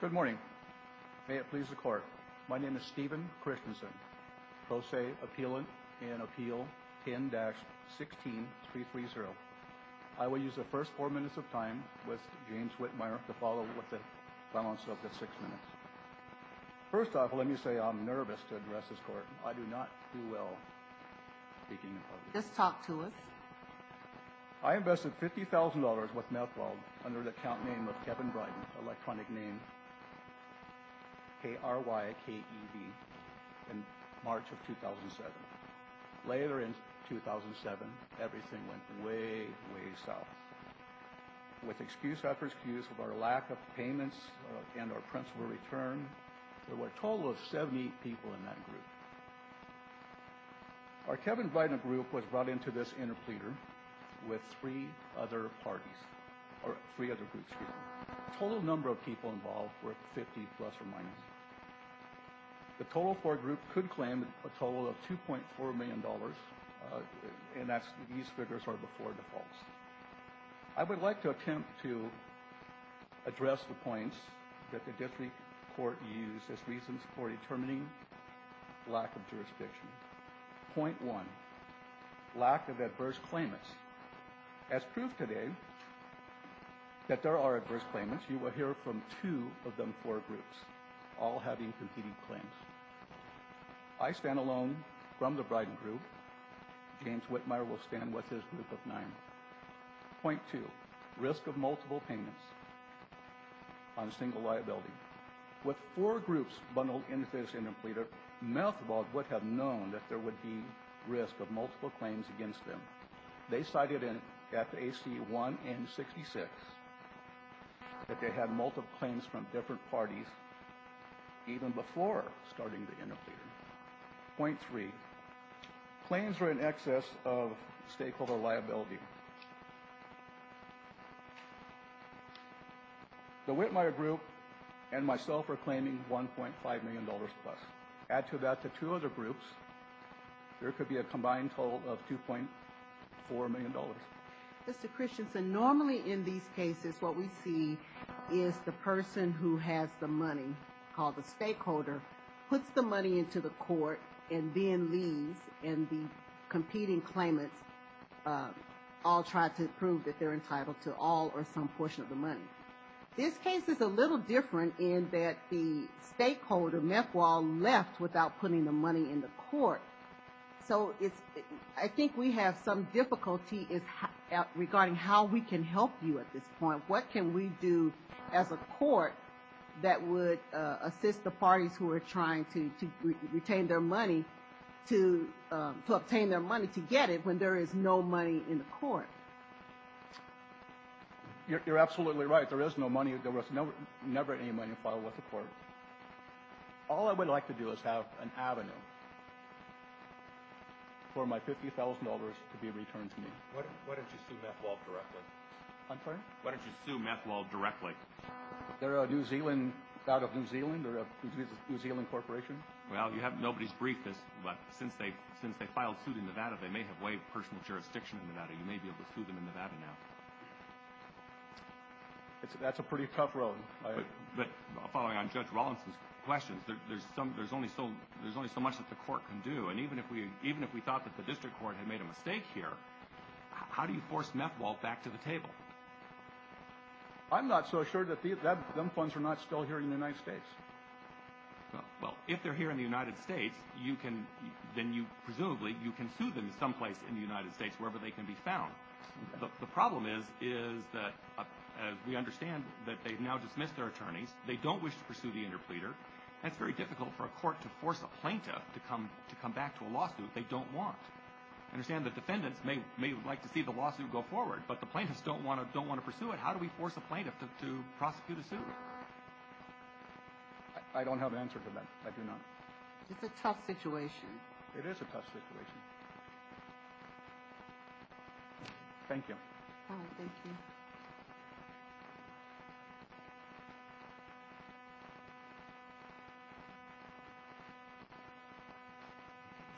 Good morning. May it please the Court. My name is Stephen Christensen, Pro Se Appealant in Appeal 10-16-330. I will use the first four minutes of time with James Whitmire to follow with the balance of the six minutes. First off, let me say I'm nervous to address this Court. I do not do well speaking in public. Just talk to us. I invested $50,000 with Methwold under the account name of Kevin Brighton, electronic name KRYKEV, in March of 2007. Later in 2007, everything went way, way south. With excuse after excuse of our lack of payments and our principal return, there were a total of 70 people in that group. Our Kevin Brighton group was brought into this interpleader with three other parties, or three other groups, excuse me. The total number of people involved were 50 plus or minus. The total for a group could claim a total of $2.4 million, and these figures are before default. I would like to attempt to address the points that the district court used as reasons for determining lack of jurisdiction. Point one, lack of adverse claimants. As proof today that there are adverse claimants, you will hear from two of them, four groups, all having competing claims. I stand alone from the Brighton group. James Whitmire will stand with his group of nine. Point two, risk of multiple payments on a single liability. With four groups bundled into this interpleader, Methwold would have known that there would be risk of multiple claims against them. They cited in FAC 1 and 66 that they had multiple claims from different parties even before starting the interpleader. Point three, claims were in excess of stakeholder liability. The Whitmire group and myself are claiming $1.5 million plus. Add to that the two other groups, there could be a combined total of $2.4 million. Mr. Christensen, normally in these cases what we see is the person who has the money, called the stakeholder, puts the money into the court and then leaves and the competing claimants all try to prove that they're entitled to all or some portion of the money. This case is a little different in that the stakeholder, Methwold, left without putting the money in the court. So I think we have some difficulty regarding how we can help you at this point. What can we do as a court that would assist the parties who are trying to obtain their money to get it when there is no money in the court? You're absolutely right. There is no money. There was never any money filed with the court. All I would like to do is have an avenue for my $50,000 to be returned to me. Why don't you sue Methwold directly? I'm sorry? Why don't you sue Methwold directly? They're out of New Zealand. They're a New Zealand corporation. Well, you have nobody's brief, but since they filed suit in Nevada, they may have waived personal jurisdiction in Nevada. You may be able to sue them in Nevada now. That's a pretty tough road. But following on Judge Rawlinson's questions, there's only so much that the court can do. And even if we thought that the district court had made a mistake here, how do you force Methwold back to the table? I'm not so sure that them funds are not still here in the United States. Well, if they're here in the United States, then presumably you can sue them someplace in the United States, wherever they can be found. The problem is that we understand that they've now dismissed their attorneys. They don't wish to pursue the interpleader. That's very difficult for a court to force a plaintiff to come back to a lawsuit they don't want. I understand that defendants may like to see the lawsuit go forward, but the plaintiffs don't want to pursue it. How do we force a plaintiff to prosecute a suit? I don't have an answer to that. I do not. It's a tough situation. It is a tough situation. Thank you. Thank you.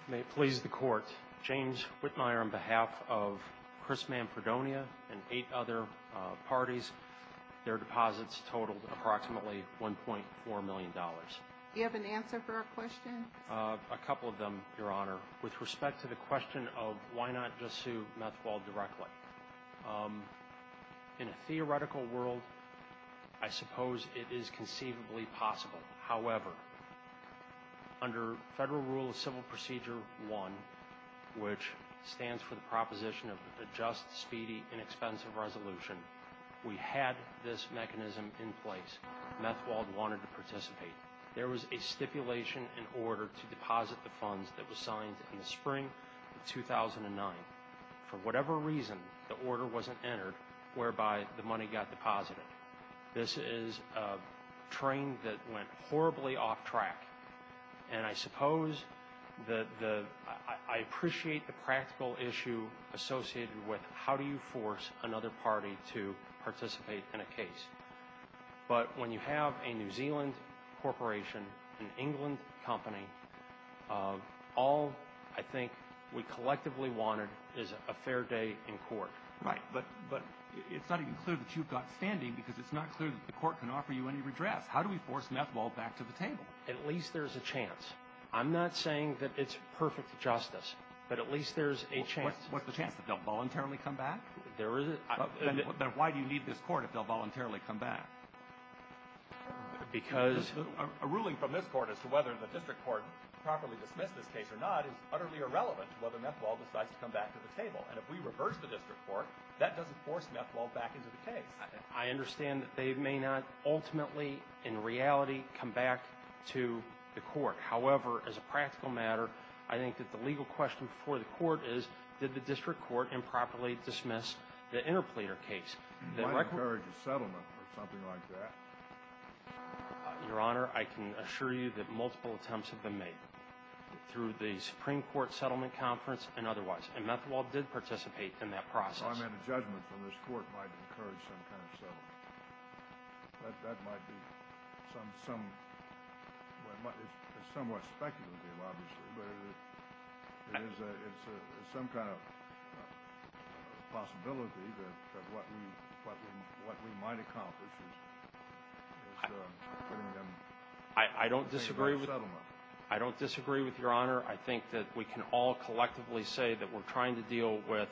May it please the court, James Whitmire, on behalf of Chris Manfredonia and eight other parties, their deposits totaled approximately $1.4 million. Do you have an answer for our question? A couple of them, Your Honor. With respect to the question of why not just sue Methwald directly, in a theoretical world, I suppose it is conceivably possible. However, under Federal Rule of Civil Procedure 1, which stands for the proposition of a just, speedy, inexpensive resolution, we had this mechanism in place. Methwald wanted to participate. There was a stipulation in order to deposit the funds that was signed in the spring of 2009. For whatever reason, the order wasn't entered, whereby the money got deposited. This is a train that went horribly off track. And I suppose I appreciate the practical issue associated with how do you force another party to participate in a case. But when you have a New Zealand corporation, an England company, all I think we collectively wanted is a fair day in court. Right. But it's not even clear that you've got standing because it's not clear that the court can offer you any redress. How do we force Methwald back to the table? At least there's a chance. I'm not saying that it's perfect justice, but at least there's a chance. What's the chance that they'll voluntarily come back? There is a – Then why do you need this court if they'll voluntarily come back? Because – A ruling from this court as to whether the district court properly dismissed this case or not is utterly irrelevant to whether Methwald decides to come back to the table. And if we reverse the district court, that doesn't force Methwald back into the case. I understand that they may not ultimately, in reality, come back to the court. However, as a practical matter, I think that the legal question for the court is, did the district court improperly dismiss the interplater case? It might encourage a settlement or something like that. Your Honor, I can assure you that multiple attempts have been made through the Supreme Court settlement conference and otherwise. And Methwald did participate in that process. So I meant a judgment from this court might encourage some kind of settlement. That might be some – it's somewhat speculative, obviously, but it is some kind of possibility that what we might accomplish is getting them a settlement. I don't disagree with – I don't disagree with your Honor. I think that we can all collectively say that we're trying to deal with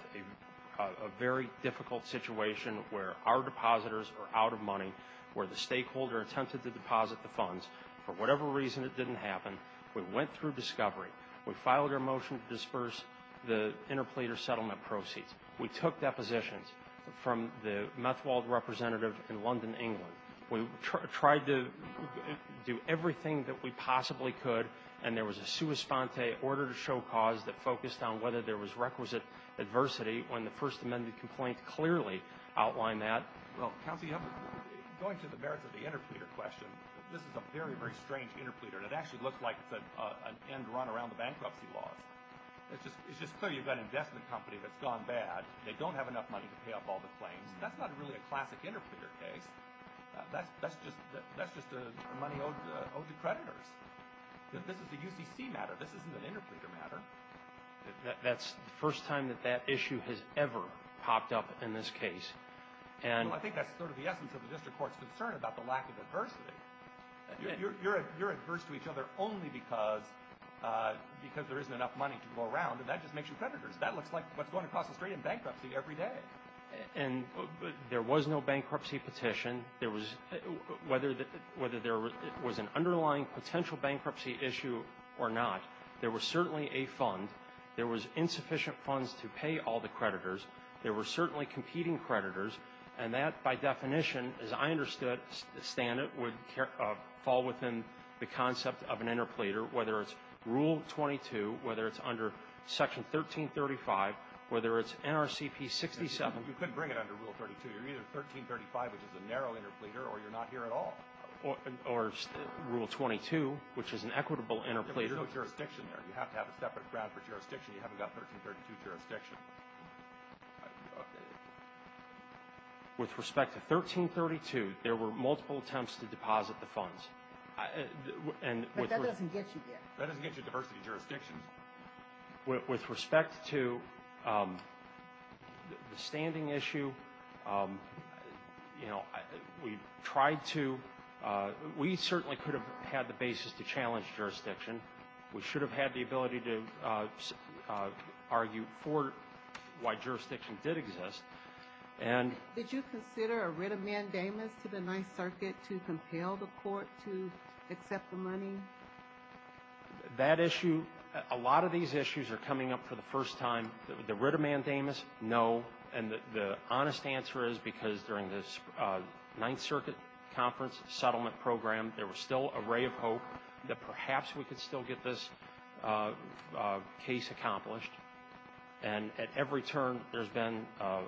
a very difficult situation where our depositors are out of money, where the stakeholder attempted to deposit the funds. For whatever reason, it didn't happen. We went through discovery. We filed our motion to disperse the interplater settlement proceeds. We took depositions from the Methwald representative in London, England. We tried to do everything that we possibly could, and there was a sua sponte, order to show cause, that focused on whether there was requisite adversity when the First Amendment complaint clearly outlined that. Well, counsel, going to the merits of the interplater question, this is a very, very strange interplater. It actually looks like it's an end run around the bankruptcy laws. It's just clear you've got an investment company that's gone bad. They don't have enough money to pay off all the claims. That's not really a classic interplater case. That's just money owed to creditors. This is a UCC matter. This isn't an interplater matter. That's the first time that that issue has ever popped up in this case. I think that's sort of the essence of the district court's concern about the lack of adversity. You're adverse to each other only because there isn't enough money to go around, and that just makes you creditors. That looks like what's going across the street in bankruptcy every day. And there was no bankruptcy petition. There was – whether there was an underlying potential bankruptcy issue or not, there was certainly a fund. There was insufficient funds to pay all the creditors. There were certainly competing creditors. And that, by definition, as I understood it, Stan, would fall within the concept of an interplater, whether it's Rule 22, whether it's under Section 1335, whether it's NRCP 67. You couldn't bring it under Rule 32. You're either 1335, which is a narrow interplater, or you're not here at all. Or Rule 22, which is an equitable interplater. There's no jurisdiction there. You have to have a separate ground for jurisdiction. You haven't got 1332 jurisdiction. With respect to 1332, there were multiple attempts to deposit the funds. But that doesn't get you there. That doesn't get you diversity of jurisdictions. With respect to the standing issue, you know, we tried to – we certainly could have had the basis to challenge jurisdiction. We should have had the ability to argue for why jurisdiction did exist. Did you consider a writ of mandamus to the Ninth Circuit to compel the court to accept the money? That issue – a lot of these issues are coming up for the first time. The writ of mandamus, no. And the honest answer is because during this Ninth Circuit conference settlement program, there was still a ray of hope that perhaps we could still get this case accomplished. And at every turn, there's been a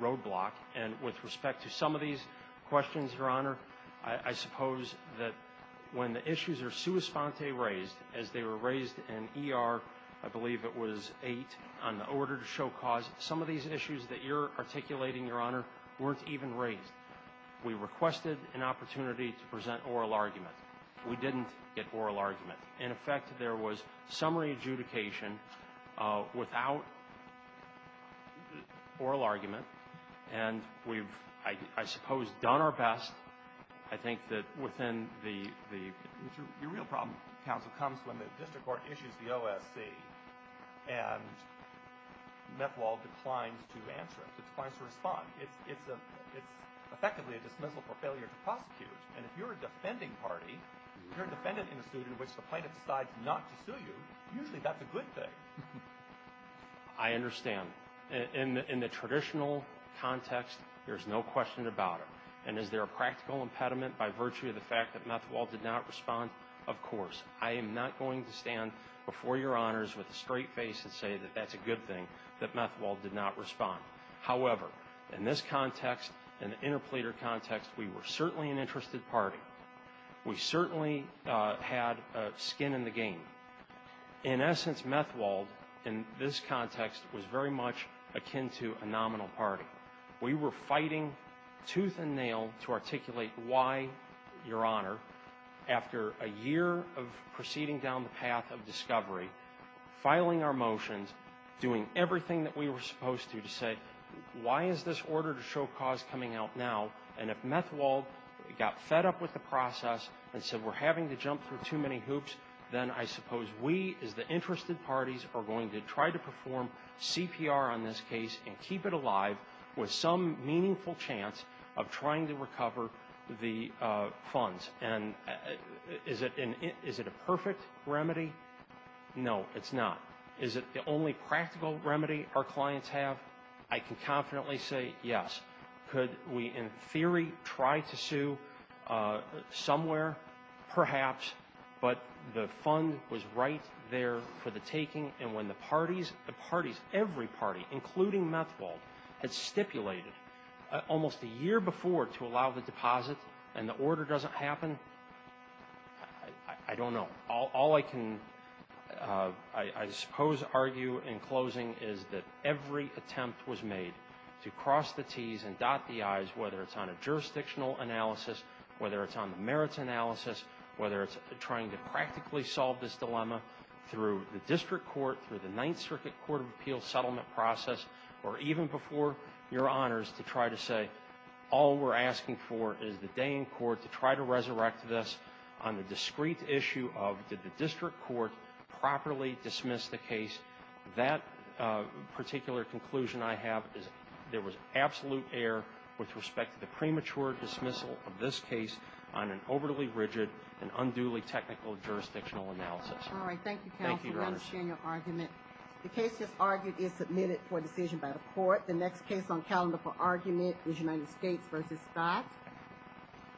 roadblock. And with respect to some of these questions, Your Honor, I suppose that when the issues are sua sponte raised, as they were raised in ER, I believe it was 8, on the order to show cause, some of these issues that you're articulating, Your Honor, weren't even raised. We requested an opportunity to present oral argument. We didn't get oral argument. In effect, there was summary adjudication without oral argument. And we've, I suppose, done our best. I think that within the – Your real problem, counsel, comes when the district court issues the OSC and Meth Law declines to answer it. It declines to respond. It's effectively a dismissal for failure to prosecute. And if you're a defending party, you're defending in a suit in which the plaintiff decides not to sue you, usually that's a good thing. I understand. In the traditional context, there's no question about it. And is there a practical impediment by virtue of the fact that Meth Law did not respond? Of course. I am not going to stand before Your Honors with a straight face and say that that's a good thing, that Meth Law did not respond. However, in this context, in the interpleader context, we were certainly an interested party. We certainly had skin in the game. In essence, Meth Law, in this context, was very much akin to a nominal party. We were fighting tooth and nail to articulate why, Your Honor, after a year of proceeding down the path of discovery, filing our motions, doing everything that we were supposed to to say, why is this order to show cause coming out now? And if Meth Law got fed up with the process and said we're having to jump through too many hoops, then I suppose we as the interested parties are going to try to perform CPR on this case and keep it alive with some meaningful chance of trying to recover the funds. And is it a perfect remedy? No, it's not. Is it the only practical remedy our clients have? I can confidently say yes. Could we, in theory, try to sue somewhere? Perhaps, but the fund was right there for the taking. And when the parties, the parties, every party, including Meth Law, had stipulated almost a year before to allow the deposit and the order doesn't happen, I don't know. All I can, I suppose, argue in closing is that every attempt was made to cross the T's and dot the I's, whether it's on a jurisdictional analysis, whether it's on the merits analysis, whether it's trying to practically solve this dilemma through the district court, through the Ninth Circuit Court of Appeal settlement process, or even before, Your Honors, to try to say all we're asking for is the day in court to try to resurrect this on the discreet issue of did the district court properly dismiss the case. That particular conclusion I have is there was absolute error with respect to the premature dismissal of this case on an overly rigid and unduly technical jurisdictional analysis. All right. Thank you, counsel. Thank you, Your Honors. We understand your argument. The case just argued is submitted for decision by the court. The next case on calendar for argument is United States v. Scott.